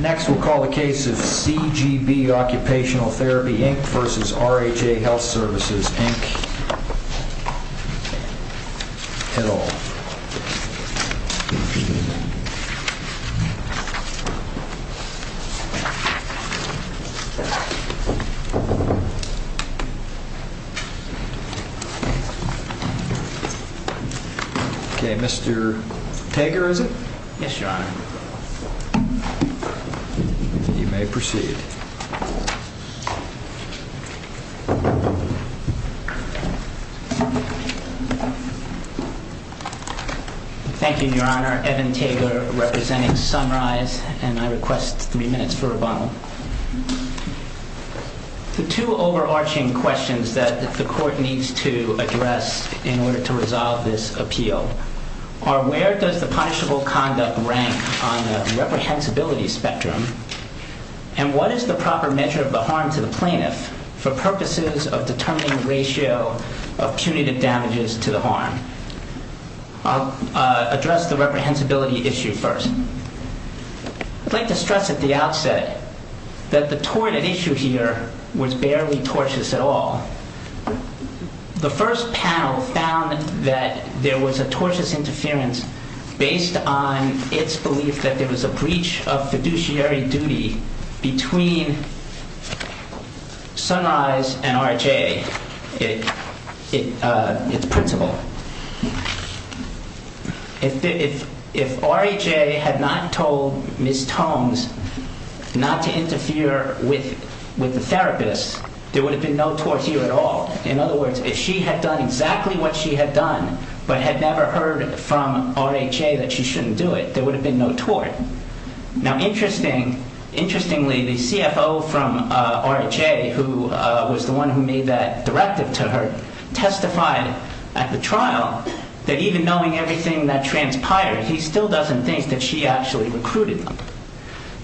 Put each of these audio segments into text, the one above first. Next we'll call the case of CGB Occupational Therapy, Inc. v. RHA Health Services, Inc. et al. Okay, Mr. Tegger, is it? Yes, your honor. You may proceed. Thank you, your honor. Evan Tegger, representing Sunrise, and I request three minutes for rebuttal. The two overarching questions that the court needs to address in order to resolve this rank on the reprehensibility spectrum, and what is the proper measure of the harm to the plaintiff for purposes of determining the ratio of punitive damages to the harm. I'll address the reprehensibility issue first. I'd like to stress at the outset that the torrid issue here was barely tortious at all. The first panel found that there was a tortious interference based on its belief that there was a breach of fiduciary duty between Sunrise and RHA, its principal. If RHA had not told Ms. Tomes not to interfere with the therapist, there would have been no tort here at all. In other words, if she had done exactly what she had done, but had never heard from RHA that she shouldn't do it, there would have been no tort. Now interestingly, the CFO from RHA, who was the one who made that directive to her, testified at the trial that even knowing everything that transpired, he still doesn't think that she actually recruited them.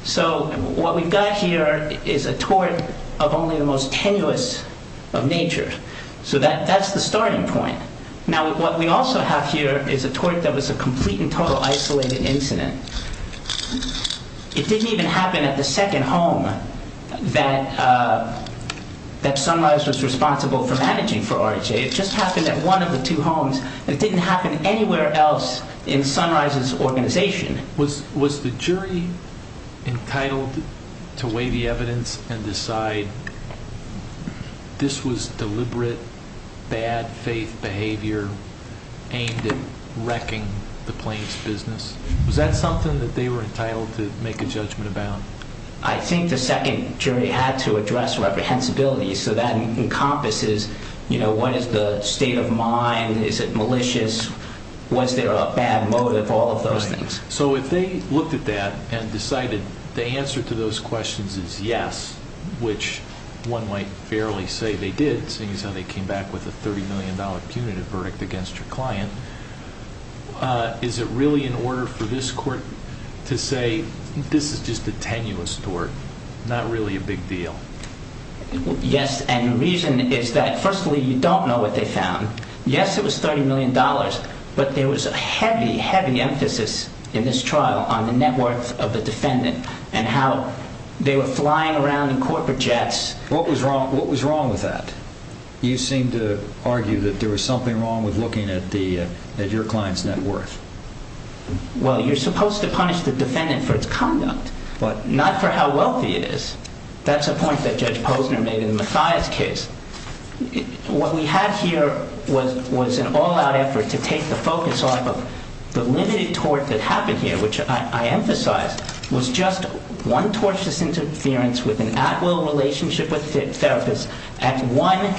So what we've got here is a tort of only the most tenuous of nature. So that's the starting point. Now what we also have here is a tort that was a complete and total isolated incident. It didn't even happen at the second home that Sunrise was responsible for managing for RHA. It just happened at one of the two homes. It didn't happen anywhere else in Sunrise's organization. Was the jury entitled to weigh the evidence and decide this was deliberate, bad faith behavior aimed at wrecking the plaintiff's business? Was that something that they were entitled to make a judgment about? I think the second jury had to address reprehensibility, so that encompasses, you know, what is the state of mind, is it malicious, was there a bad motive, all of those things. So if they looked at that and decided the answer to those questions is yes, which one might fairly say they did, seeing as how they came back with a $30 million punitive verdict against your client, is it really in order for this court to say this is just a tenuous tort, not really a big deal? Yes, and the reason is that firstly, you don't know what they found. Yes, it was $30 million, but there was a heavy, heavy emphasis in this trial on the net worth of the defendant and how they were flying around in corporate jets. What was wrong with that? You seem to argue that there was something wrong with looking at your client's net worth. Well, you're supposed to punish the defendant for its conduct, not for how wealthy it is. That's a point that Judge Posner made in the Mathias case. What we had here was an all-out effort to take the focus off of the limited tort that happened here, which I emphasize was just one tortious interference with an at-will relationship with a therapist at one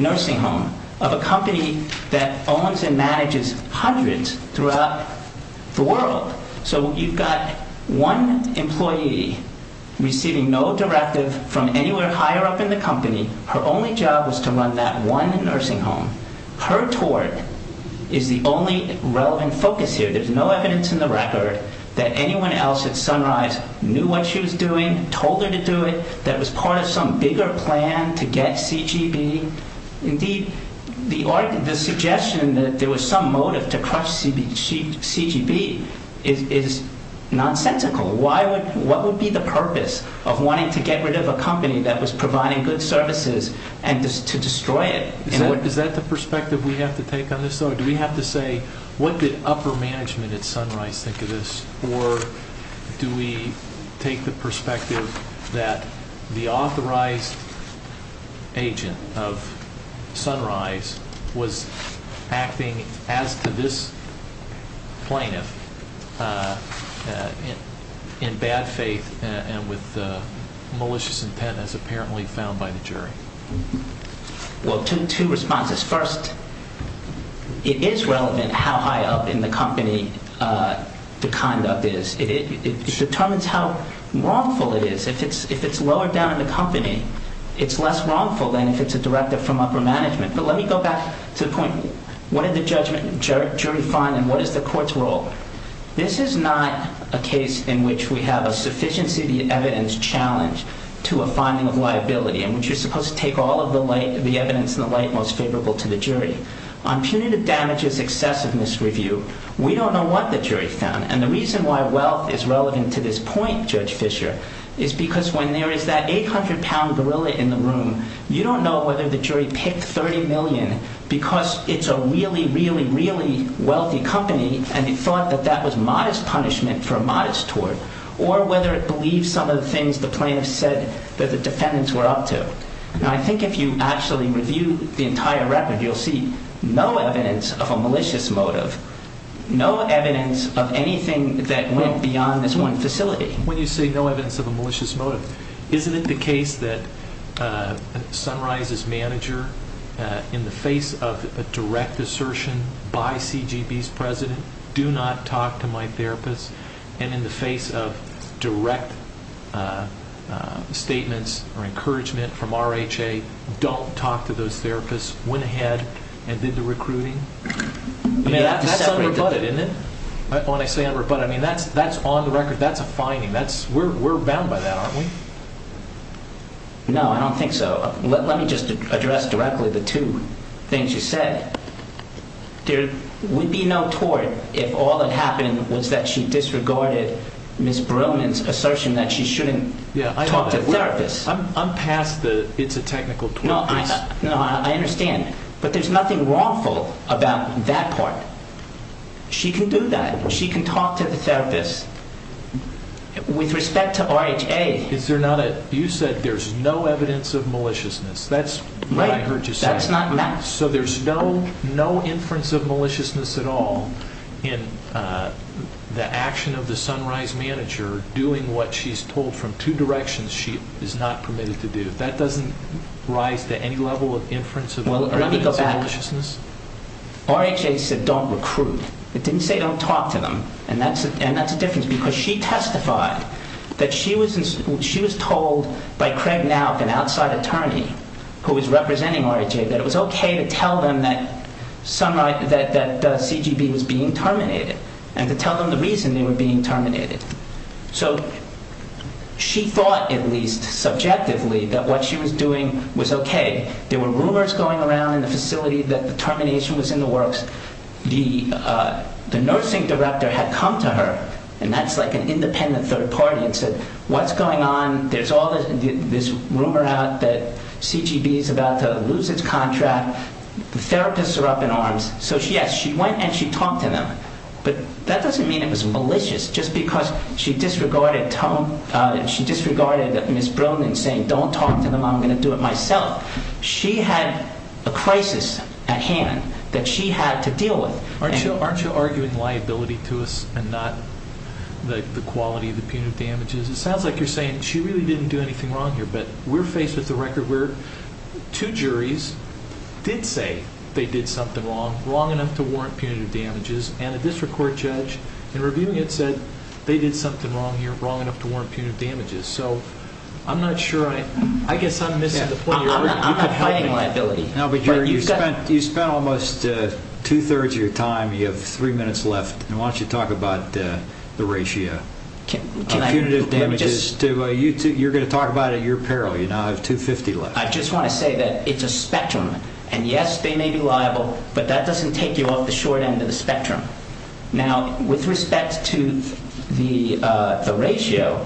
nursing home of a company that owns and manages hundreds throughout the world. So you've got one employee receiving no directive from anywhere higher up in the company, her only job was to run that one nursing home. Her tort is the only relevant focus here. There's no evidence in the record that anyone else at Sunrise knew what she was doing, told her to do it, that it was part of some bigger plan to get CGB. Indeed, the suggestion that there was some motive to crush CGB is nonsensical. What would be the purpose of wanting to get rid of a company that was providing good services and to destroy it? Is that the perspective we have to take on this, though? Do we have to say, what did upper management at Sunrise think of this, or do we take the in bad faith and with malicious intent as apparently found by the jury? Well, two responses. First, it is relevant how high up in the company the conduct is. It determines how wrongful it is. If it's lower down in the company, it's less wrongful than if it's a directive from upper management. But let me go back to the point, what did the jury find and what is the court's role? This is not a case in which we have a sufficiency of the evidence challenge to a finding of liability in which you're supposed to take all of the evidence in the light most favorable to the jury. On punitive damages excessive misreview, we don't know what the jury found. And the reason why wealth is relevant to this point, Judge Fisher, is because when there is that 800-pound gorilla in the room, you don't know whether the jury picked 30 million because it's a really, really, really wealthy company and it thought that that was modest punishment for a modest tort, or whether it believes some of the things the plaintiffs said that the defendants were up to. And I think if you actually review the entire record, you'll see no evidence of a malicious motive, no evidence of anything that went beyond this one facility. When you say no evidence of a malicious motive, isn't it the case that Sunrise's manager in the face of a direct assertion by CGB's president, do not talk to my therapist, and in the face of direct statements or encouragement from RHA, don't talk to those therapists, went ahead and did the recruiting? I mean, that's unrebutted, isn't it? When I say unrebutted, I mean, that's on the record. That's a finding. We're bound by that, aren't we? No, I don't think so. Let me just address directly the two things you said. There would be no tort if all that happened was that she disregarded Ms. Brillman's assertion that she shouldn't talk to therapists. I'm past the it's a technical tort case. No, I understand. But there's nothing wrongful about that part. She can do that. She can talk to the therapist. With respect to RHA, you said there's no evidence of maliciousness. That's what I heard you say. So there's no inference of maliciousness at all in the action of the Sunrise manager doing what she's told from two directions she is not permitted to do. That doesn't rise to any level of inference of maliciousness? RHA said don't recruit. It didn't say don't talk to them. And that's a difference because she testified that she was told by Craig Nauck, an outside attorney who was representing RHA, that it was okay to tell them that CGB was being terminated and to tell them the reason they were being terminated. So she thought, at least subjectively, that what she was doing was okay. There were rumors going around in the facility that the termination was in the works. Because the nursing director had come to her, and that's like an independent third party, and said, what's going on? There's all this rumor out that CGB is about to lose its contract. The therapists are up in arms. So yes, she went and she talked to them. But that doesn't mean it was malicious. Just because she disregarded Ms. Bronin saying, don't talk to them, I'm going to do it myself. She had a crisis at hand that she had to deal with. Aren't you arguing liability to us and not the quality of the punitive damages? It sounds like you're saying she really didn't do anything wrong here. But we're faced with a record where two juries did say they did something wrong, wrong enough to warrant punitive damages. And a district court judge in reviewing it said they did something wrong here, wrong enough to warrant punitive damages. So I'm not sure, I guess I'm missing the point. I'm not fighting liability. No, but you spent almost two-thirds of your time. You have three minutes left. And why don't you talk about the ratio of punitive damages. You're going to talk about it at your peril. You now have $250 left. I just want to say that it's a spectrum. And yes, they may be liable. But that doesn't take you off the short end of the spectrum. Now, with respect to the ratio,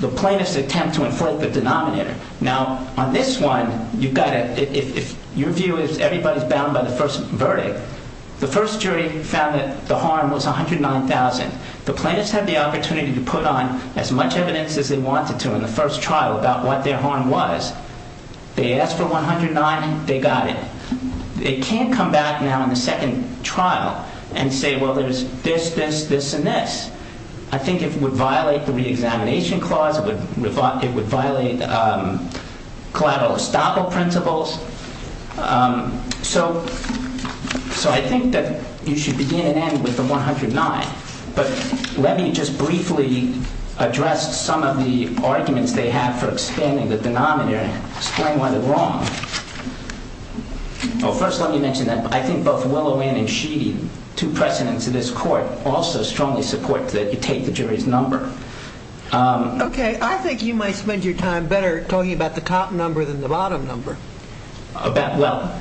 the plaintiffs attempt to enfold the denominator. Now, on this one, if your view is everybody's bound by the first verdict, the first jury found that the harm was $109,000. The plaintiffs had the opportunity to put on as much evidence as they wanted to in the first trial about what their harm was. They asked for $109,000. They got it. They can't come back now in the second trial and say, well, there's this, this, this, and this. I think it would violate the reexamination clause. It would violate collateral estoppel principles. So I think that you should begin and end with the $109,000. But let me just briefly address some of the arguments they have for expanding the denominator and explain why they're wrong. Well, first, let me mention that I think both Willowin and Sheedy, two precedents of this court, also strongly support that you take the jury's number. OK. I think you might spend your time better talking about the top number than the bottom number. Well,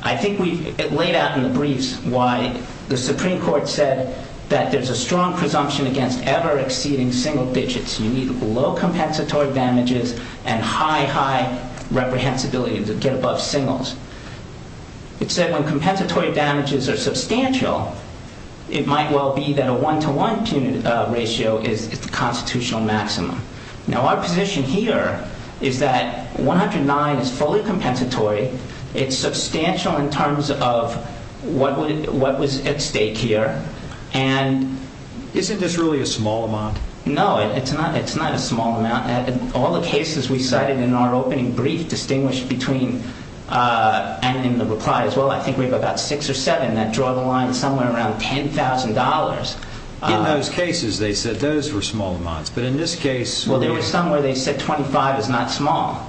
I think we've laid out in the briefs why the Supreme Court said that there's a strong presumption against ever exceeding single digits. You need low compensatory damages and high, high reprehensibility to get above singles. It said when compensatory damages are substantial, it might well be that a one-to-one ratio is the constitutional maximum. Now, our position here is that $109,000 is fully compensatory. It's substantial in terms of what was at stake here. And isn't this really a small amount? No, it's not. It's not a small amount. All the cases we cited in our opening brief distinguished between, and in the reply as well, I think we have about six or seven that draw the line somewhere around $10,000. In those cases, they said those were small amounts. But in this case... Well, there were some where they said 25 is not small.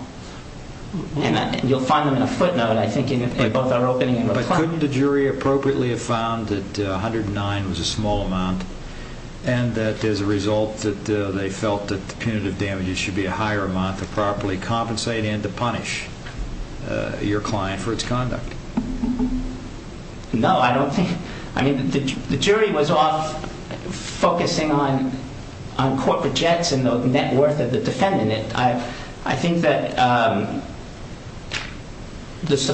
And you'll find them in a footnote, I think, in both our opening and reply. But couldn't the jury appropriately have found that 109 was a small amount and that as a result that they felt that the punitive damages should be a higher amount to properly compensate and to punish your client for its conduct? No, I don't think... I mean, the jury was off focusing on corporate jets and the net worth of the defendant. I think that the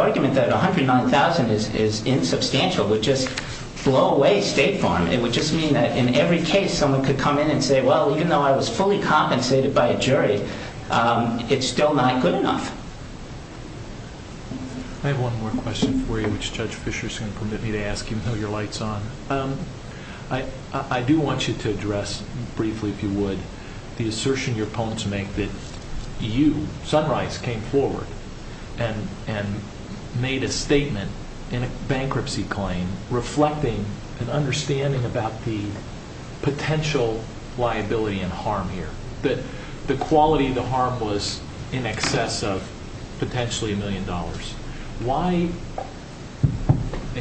argument that $109,000 is insubstantial would just blow away State Farm. It would just mean that in every case someone could come in and say, well, even though I was fully compensated by a jury, it's still not good enough. I have one more question for you, which Judge Fischer is going to permit me to ask, even though your light's on. I do want you to address briefly, if you would, the assertion your opponents make that you, when Sunrise came forward and made a statement in a bankruptcy claim, reflecting an understanding about the potential liability and harm here, that the quality of the harm was in excess of potentially a million dollars. Why,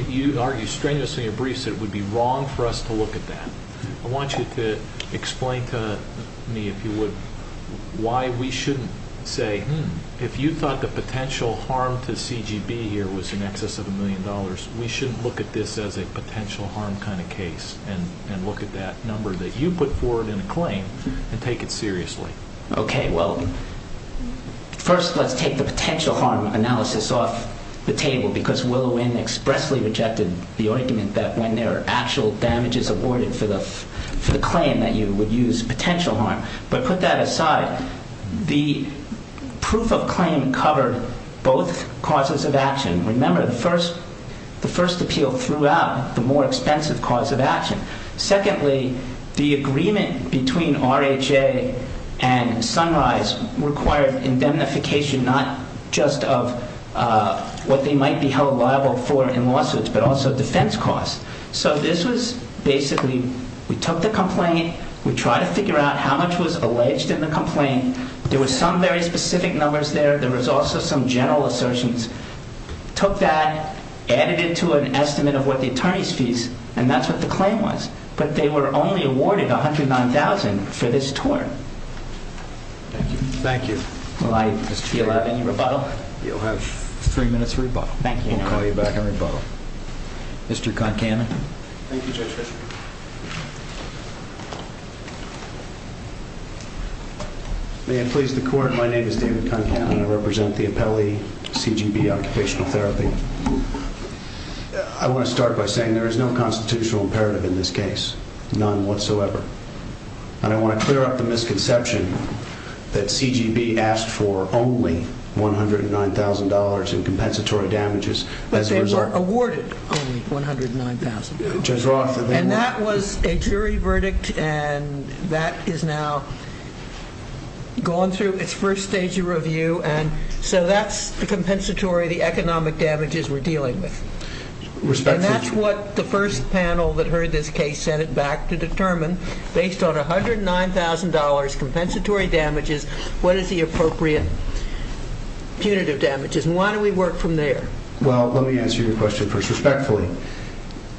you argue strenuously in your briefs that it would be wrong for us to look at that. I want you to explain to me, if you would, why we shouldn't say, hmm, if you thought the potential harm to CGB here was in excess of a million dollars, we shouldn't look at this as a potential harm kind of case and look at that number that you put forward in a claim and take it seriously. Okay, well, first let's take the potential harm analysis off the table because Willow Inn expressly rejected the argument that when there are actual damages awarded for the claim that you would use potential harm. But put that aside, the proof of claim covered both causes of action. Remember, the first appeal threw out the more expensive cause of action. Secondly, the agreement between RHA and Sunrise required indemnification not just of what they might be held liable for in lawsuits, but also defense costs. So this was basically, we took the complaint, we tried to figure out how much was alleged in the complaint. There were some very specific numbers there. There was also some general assertions. Took that, added it to an estimate of what the attorney's fees, and that's what the claim was. But they were only awarded $109,000 for this tort. Thank you. Will I be allowed any rebuttal? You'll have three minutes of rebuttal. Thank you. We'll call you back on rebuttal. Mr. Concannon. Thank you, Judge Fisher. May it please the court, my name is David Concannon. I represent the appellee, CGB Occupational Therapy. I want to start by saying there is no constitutional imperative in this case. None whatsoever. And I want to clear up the misconception that CGB asked for only $109,000 in compensatory damages. But they were awarded only $109,000. And that was a jury verdict, and that is now gone through its first stage of review. And so that's the compensatory, the economic damages we're dealing with. And that's what the first panel that heard this case sent it back to determine. Based on $109,000 compensatory damages, what is the appropriate punitive damages? And why do we work from there? Well, let me answer your question first, respectfully.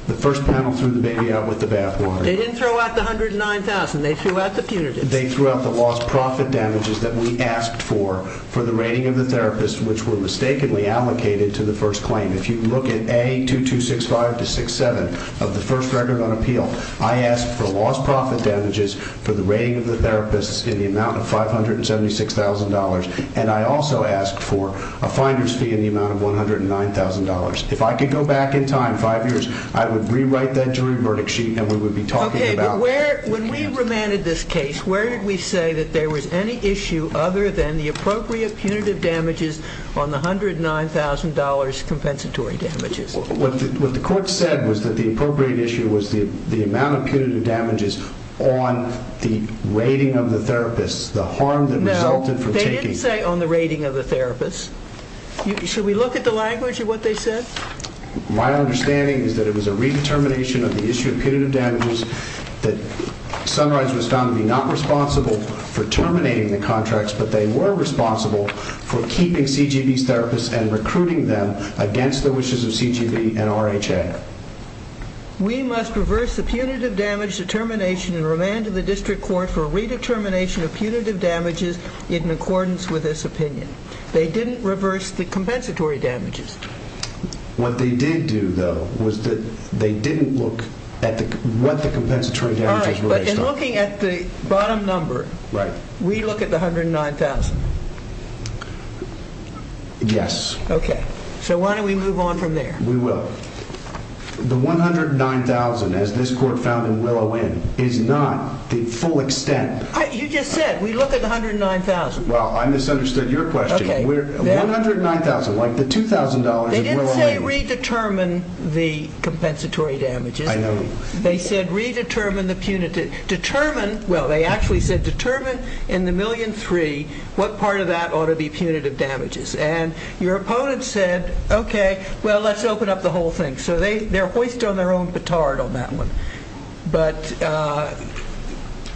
The first panel threw the baby out with the bathwater. They didn't throw out the $109,000, they threw out the punitive. They threw out the lost profit damages that we asked for, for the rating of the therapists which were mistakenly allocated to the first claim. If you look at A2265-67 of the first record on appeal, I asked for lost profit damages for the rating of the therapists in the amount of $576,000. And I also asked for a finder's fee in the amount of $109,000. If I could go back in time five years, I would rewrite that jury verdict sheet and we would be talking about- Okay, but when we remanded this case, where did we say that there was any issue other than the appropriate punitive damages on the $109,000 compensatory damages? What the court said was that the appropriate issue was the amount of punitive damages on the rating of the therapists. The harm that resulted from taking- No, they didn't say on the rating of the therapists. Should we look at the language of what they said? My understanding is that it was a redetermination of the issue of punitive damages that Sunrise was found to be not responsible for terminating the contracts. But they were responsible for keeping CGB's therapists and recruiting them against the wishes of CGB and RHA. We must reverse the punitive damage determination and redetermination of punitive damages in accordance with this opinion. They didn't reverse the compensatory damages. What they did do, though, was that they didn't look at what the compensatory damages were- All right, but in looking at the bottom number, we look at the $109,000. Yes. Okay. So why don't we move on from there? We will. The $109,000, as this court found in Willow Inn, is not the full extent. You just said, we look at the $109,000. Well, I misunderstood your question. Okay. $109,000, like the $2,000 in Willow Inn. They didn't say redetermine the compensatory damages. I know. They said redetermine the punitive. Determine, well, they actually said determine in the million three what part of that ought to be punitive damages. And your opponent said, okay, well, let's open up the whole thing. So they're hoist on their own petard on that one. But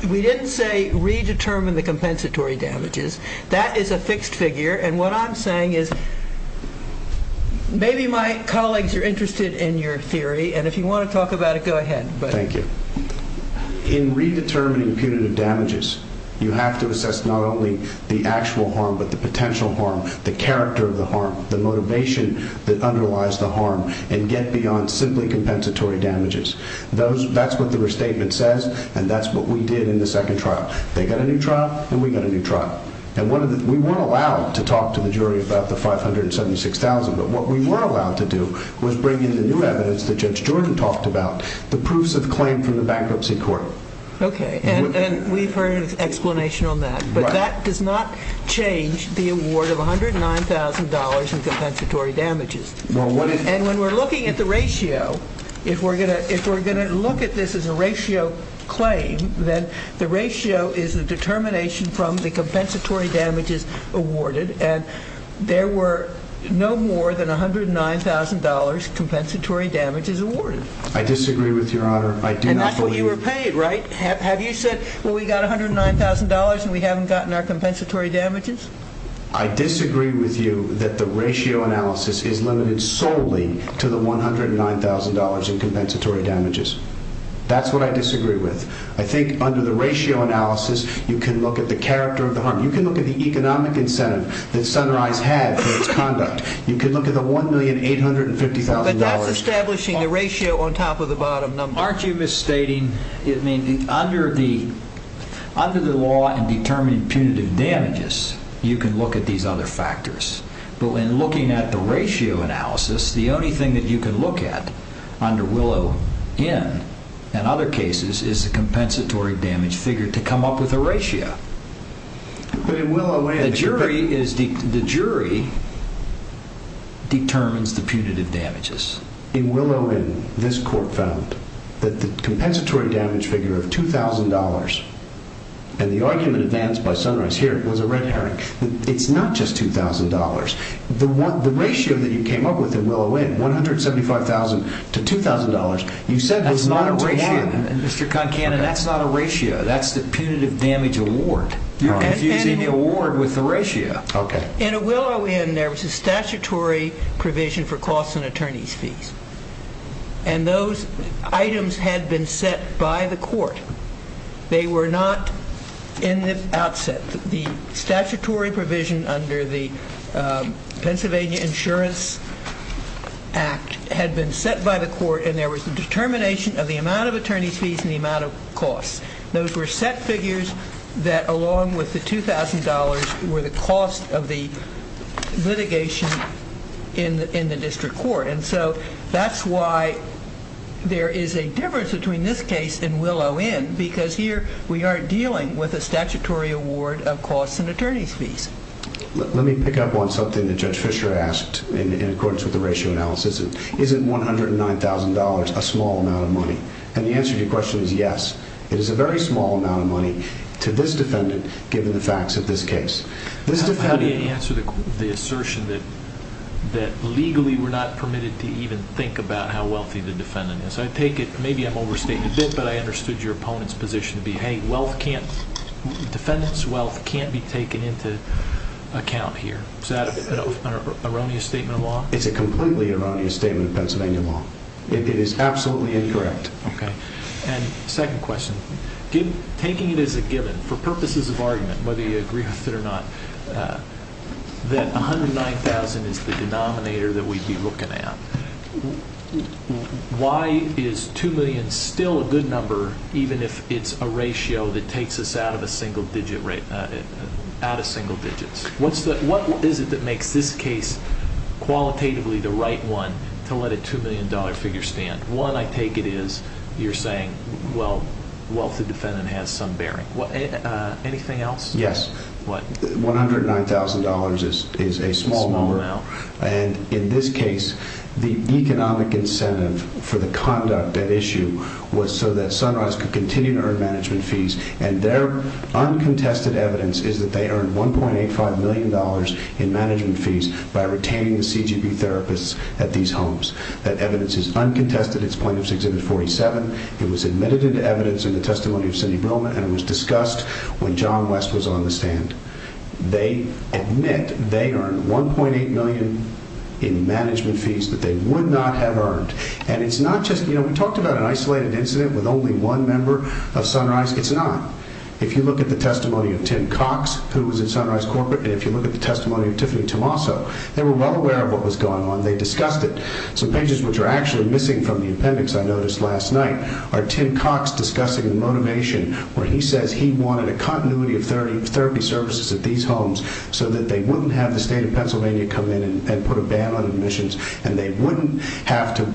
we didn't say redetermine the compensatory damages. That is a fixed figure. And what I'm saying is, maybe my colleagues are interested in your theory. And if you want to talk about it, go ahead. Thank you. In redetermining punitive damages, you have to assess not only the actual harm, but the potential harm, the character of the harm, the motivation that underlies the harm, and get beyond simply compensatory damages. That's what the restatement says, and that's what we did in the second trial. They got a new trial, and we got a new trial. And we weren't allowed to talk to the jury about the $576,000. But what we were allowed to do was bring in the new evidence that Judge Jordan talked about, the proofs of claim from the bankruptcy court. Okay, and we've heard an explanation on that. But that does not change the award of $109,000 in compensatory damages. And when we're looking at the ratio, if we're gonna look at this as a ratio claim, then the ratio is the determination from the compensatory damages awarded. And there were no more than $109,000 compensatory damages awarded. I disagree with your honor. I do not believe- And that's what you were paid, right? Have you said, well, we got $109,000 and we haven't gotten our compensatory damages? I disagree with you that the ratio analysis is limited solely to the $109,000 in compensatory damages. That's what I disagree with. I think under the ratio analysis, you can look at the character of the harm. You can look at the economic incentive that Sunrise had for its conduct. You can look at the $1,850,000- But that's establishing the ratio on top of the bottom number. Aren't you misstating, I mean, under the law and determining punitive damages, you can look at these other factors. But when looking at the ratio analysis, the only thing that you can look at under Willow Inn and other cases is the compensatory damage figure to come up with a ratio. But in Willow Inn- The jury determines the punitive damages. In Willow Inn, this court found that the compensatory damage figure of $2,000, and the argument advanced by Sunrise here was a red herring. It's not just $2,000. The ratio that you came up with in Willow Inn, $175,000 to $2,000, you said was not a ratio- That's not a ratio, Mr. Concannon. That's not a ratio. That's the punitive damage award. You're confusing the award with the ratio. Okay. In Willow Inn, there was a statutory provision for costs and attorney's fees. And those items had been set by the court. They were not in the outset. The statutory provision under the Pennsylvania Insurance Act had been set by the court, and there was a determination of the amount of attorney's fees and the amount of costs. Those were set figures that, along with the $2,000, were the cost of the litigation in the district court. And so that's why there is a difference between this case and Willow Inn, because here we are dealing with a statutory award of costs and attorney's fees. Let me pick up on something that Judge Fisher asked in accordance with the ratio analysis. Is it $109,000, a small amount of money? And the answer to your question is yes. It is a very small amount of money to this defendant, given the facts of this case. This defendant- How do you answer the assertion that legally we're not permitted to even think about how wealthy the defendant is? I take it, maybe I'm overstating a bit, but I understood your opponent's position to be, hey, defendants' wealth can't be taken into account here. Is that an erroneous statement of law? It's a completely erroneous statement of Pennsylvania law. It is absolutely incorrect. Okay, and second question, taking it as a given, for purposes of argument, whether you agree with it or not, that $109,000 is the denominator that we'd be looking at. Why is $2 million still a good number, even if it's a ratio that takes us out of single digits? What is it that makes this case qualitatively the right one to let a $2 million figure stand? One, I take it, is you're saying, well, wealthy defendant has some bearing. Anything else? Yes. What? $109,000 is a small number, and in this case, the economic incentive for the conduct at issue was so that Sunrise could continue to earn management fees, and their uncontested evidence is that they earned $1.85 million in management fees by retaining the CGB therapists at these homes, that evidence is uncontested, it's plaintiff's exhibit 47. It was admitted into evidence in the testimony of Cindy Brillman, and it was discussed when John West was on the stand. They admit they earned $1.8 million in management fees that they would not have earned. And it's not just, we talked about an isolated incident with only one member of Sunrise, it's not. If you look at the testimony of Tim Cox, who was at Sunrise Corporate, and if you look at the testimony of Tiffany Tomaso, they were well aware of what was Some pages which are actually missing from the appendix I noticed last night are Tim Cox discussing the motivation where he says he wanted a continuity of therapy services at these homes so that they wouldn't have the state of Pennsylvania come in and put a ban on admissions, and they wouldn't have to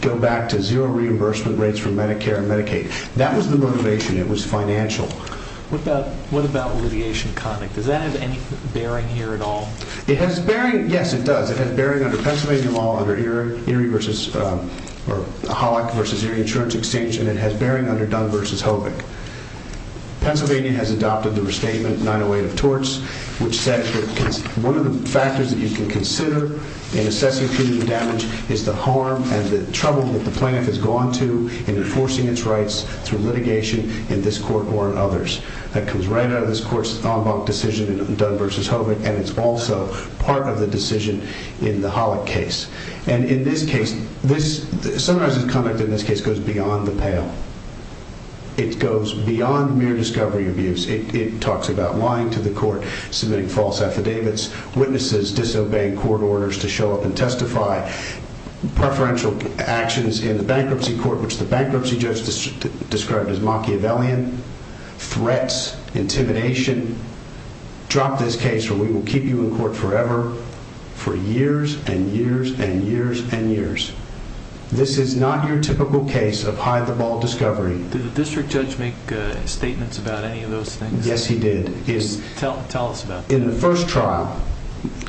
go back to zero reimbursement rates for Medicare and Medicaid. That was the motivation, it was financial. What about litigation conduct? Does that have any bearing here at all? It has bearing, yes it does. It has bearing under Pennsylvania law under Holic versus Erie Insurance Exchange, and it has bearing under Dunn versus Hobick. Pennsylvania has adopted the restatement 908 of torts, which says that one of the factors that you can consider in assessing community damage is the harm and the trouble that the plaintiff has gone to in enforcing its rights through litigation in this court or in others. That comes right out of this court's en banc decision in Dunn versus Hobick, and it's also part of the decision in the Holic case. And in this case, this summarizes conduct in this case goes beyond the pale. It goes beyond mere discovery abuse. It talks about lying to the court, submitting false affidavits, witnesses disobeying court orders to show up and testify. Preferential actions in the bankruptcy court, which the bankruptcy judge described as Machiavellian, threats, intimidation, drop this case or we will keep you in court forever, for years and years and years and years. This is not your typical case of hide the ball discovery. Did the district judge make statements about any of those things? Yes, he did. Yes, tell us about it. In the first trial,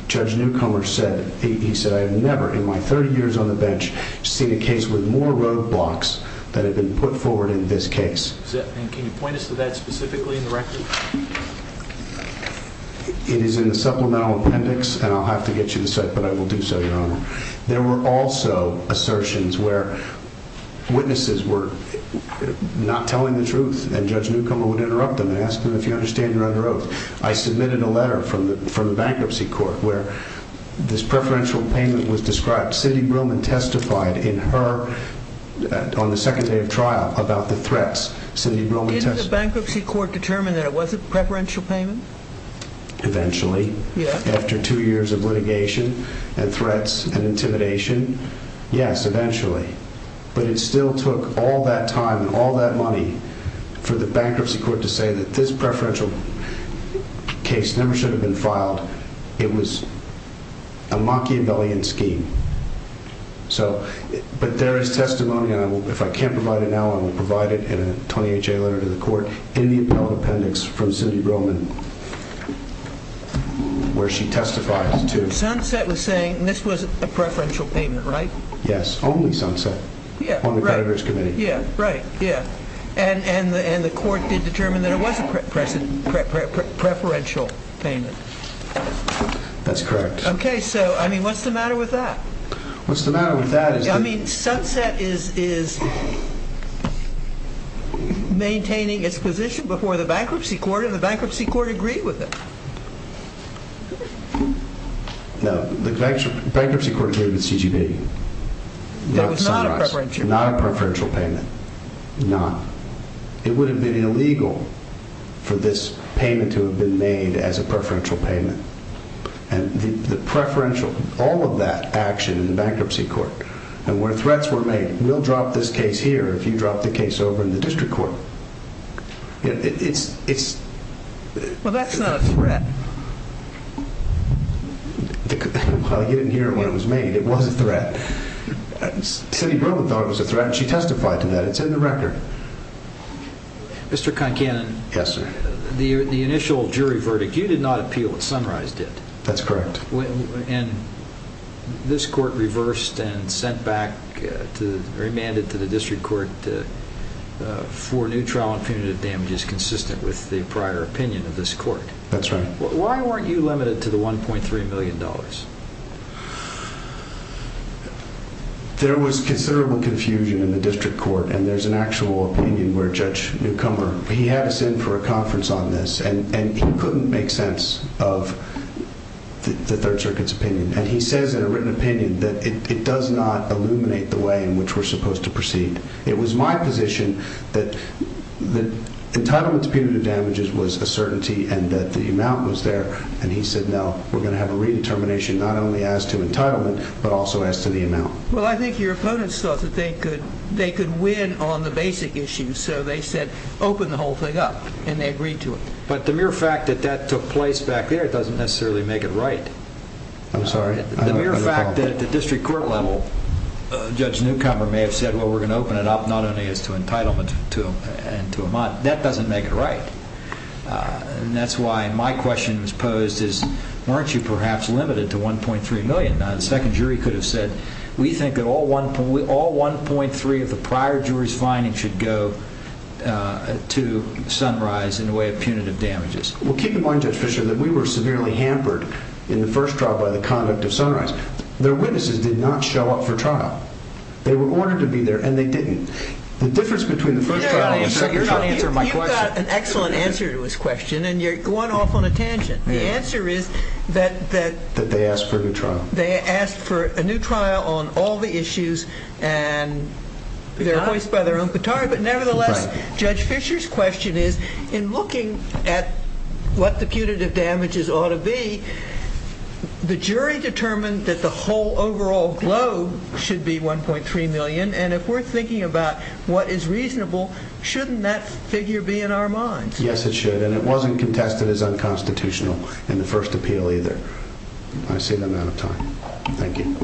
Judge Newcomer said, he said, I have never in my 30 years on the bench seen a case with more roadblocks that have been put forward in this case. Can you point us to that specifically in the record? It is in the supplemental appendix, and I'll have to get you the site, but I will do so, Your Honor. There were also assertions where witnesses were not telling the truth, and Judge Newcomer would interrupt them and ask them if you understand you're under oath. I submitted a letter from the bankruptcy court where this preferential payment was described. Cindy Broman testified in her, on the second day of trial, about the threats. Cindy Broman testified- Didn't the bankruptcy court determine that it was a preferential payment? Eventually. Yeah. After two years of litigation and threats and intimidation, yes, eventually. But it still took all that time and all that money for the bankruptcy court to say that this preferential case never should have been So, but there is testimony, and if I can't provide it now, I will provide it in a 20HA letter to the court in the appellate appendix from Cindy Broman, where she testified to- Sunset was saying this was a preferential payment, right? Yes, only Sunset. Yeah, right. On the creditors committee. Yeah, right, yeah. And the court did determine that it was a preferential payment. That's correct. Okay, so, I mean, what's the matter with that? What's the matter with that is that- I mean, Sunset is maintaining its position before the bankruptcy court, and the bankruptcy court agreed with it. No, the bankruptcy court agreed with CGB. That was not a preferential payment. Not a preferential payment, not. It would have been illegal for this payment to have been made as a preferential payment. And the preferential, all of that action in the bankruptcy court, and where threats were made, we'll drop this case here if you drop the case over in the district court, it's- Well, that's not a threat. Well, you didn't hear it when it was made. It was a threat. Cindy Broman thought it was a threat, and she testified to that. It's in the record. Mr. Concanon. Yes, sir. The initial jury verdict, you did not appeal what Sunrise did. That's correct. And this court reversed and sent back, or demanded to the district court for new trial and punitive damages consistent with the prior opinion of this court. That's right. Why weren't you limited to the $1.3 million? There was considerable confusion in the district court, and there's an actual opinion where Judge Newcomer, he had us in for a conference on this, and he couldn't make sense of the Third Circuit's opinion. And he says in a written opinion that it does not illuminate the way in which we're supposed to proceed. It was my position that the entitlement to punitive damages was a certainty and that the amount was there. And he said, no, we're gonna have a redetermination, not only as to entitlement, but also as to the amount. Well, I think your opponents thought that they could win on the basic issues, so they said, open the whole thing up, and they agreed to it. But the mere fact that that took place back there doesn't necessarily make it right. I'm sorry? The mere fact that at the district court level, Judge Newcomer may have said, well, we're gonna open it up, not only as to entitlement and to amount. That doesn't make it right. And that's why my question was posed is, weren't you perhaps limited to $1.3 million? Now, the second jury could have said, we think that all 1.3 of the prior jury's findings should go to Sunrise in the way of punitive damages. Well, keep in mind, Judge Fischer, that we were severely hampered in the first trial by the conduct of Sunrise. Their witnesses did not show up for trial. They were ordered to be there, and they didn't. The difference between the first trial and the second trial- You're not answering my question. You got an excellent answer to his question, and you're going off on a tangent. The answer is that- That they asked for a new trial. They asked for a new trial on all the issues, and they're hoist by their own petard, but nevertheless, Judge Fischer's question is, in looking at what the punitive damages ought to be, the jury determined that the whole overall globe should be 1.3 million, and if we're thinking about what is reasonable, shouldn't that figure be in our minds? Yes, it should, and it wasn't contested as unconstitutional in the first appeal either. I've seen enough time. Thank you.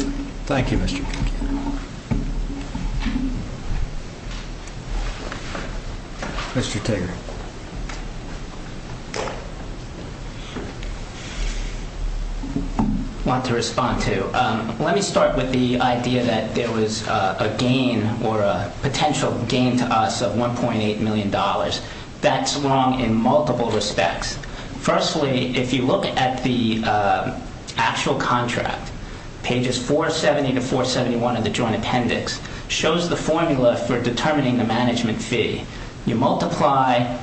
Thank you, Mr. Tigger. Mr. Tigger. Want to respond to, let me start with the idea that there was a gain or a potential gain to us of $1.8 million. That's wrong in multiple respects. Firstly, if you look at the actual contract, pages 470 to 471 of the joint appendix, shows the formula for determining the management fee. You multiply,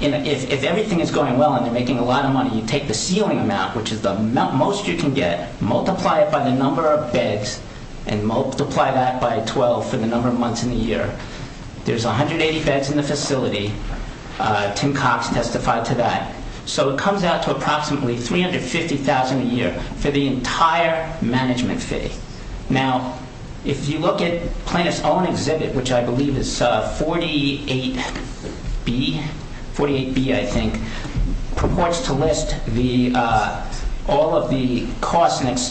if everything is going well and you're making a lot of money, you take the ceiling amount, which is the most you can get, multiply it by the number of beds, and multiply that by 12 for the number of months in the year. There's 180 beds in the facility. Tim Cox testified to that. So it comes out to approximately $350,000 a year for the entire management fee. Now, if you look at Plaintiff's own exhibit, which I believe is 48B, 48B, I think, purports to list all of the cost and expense.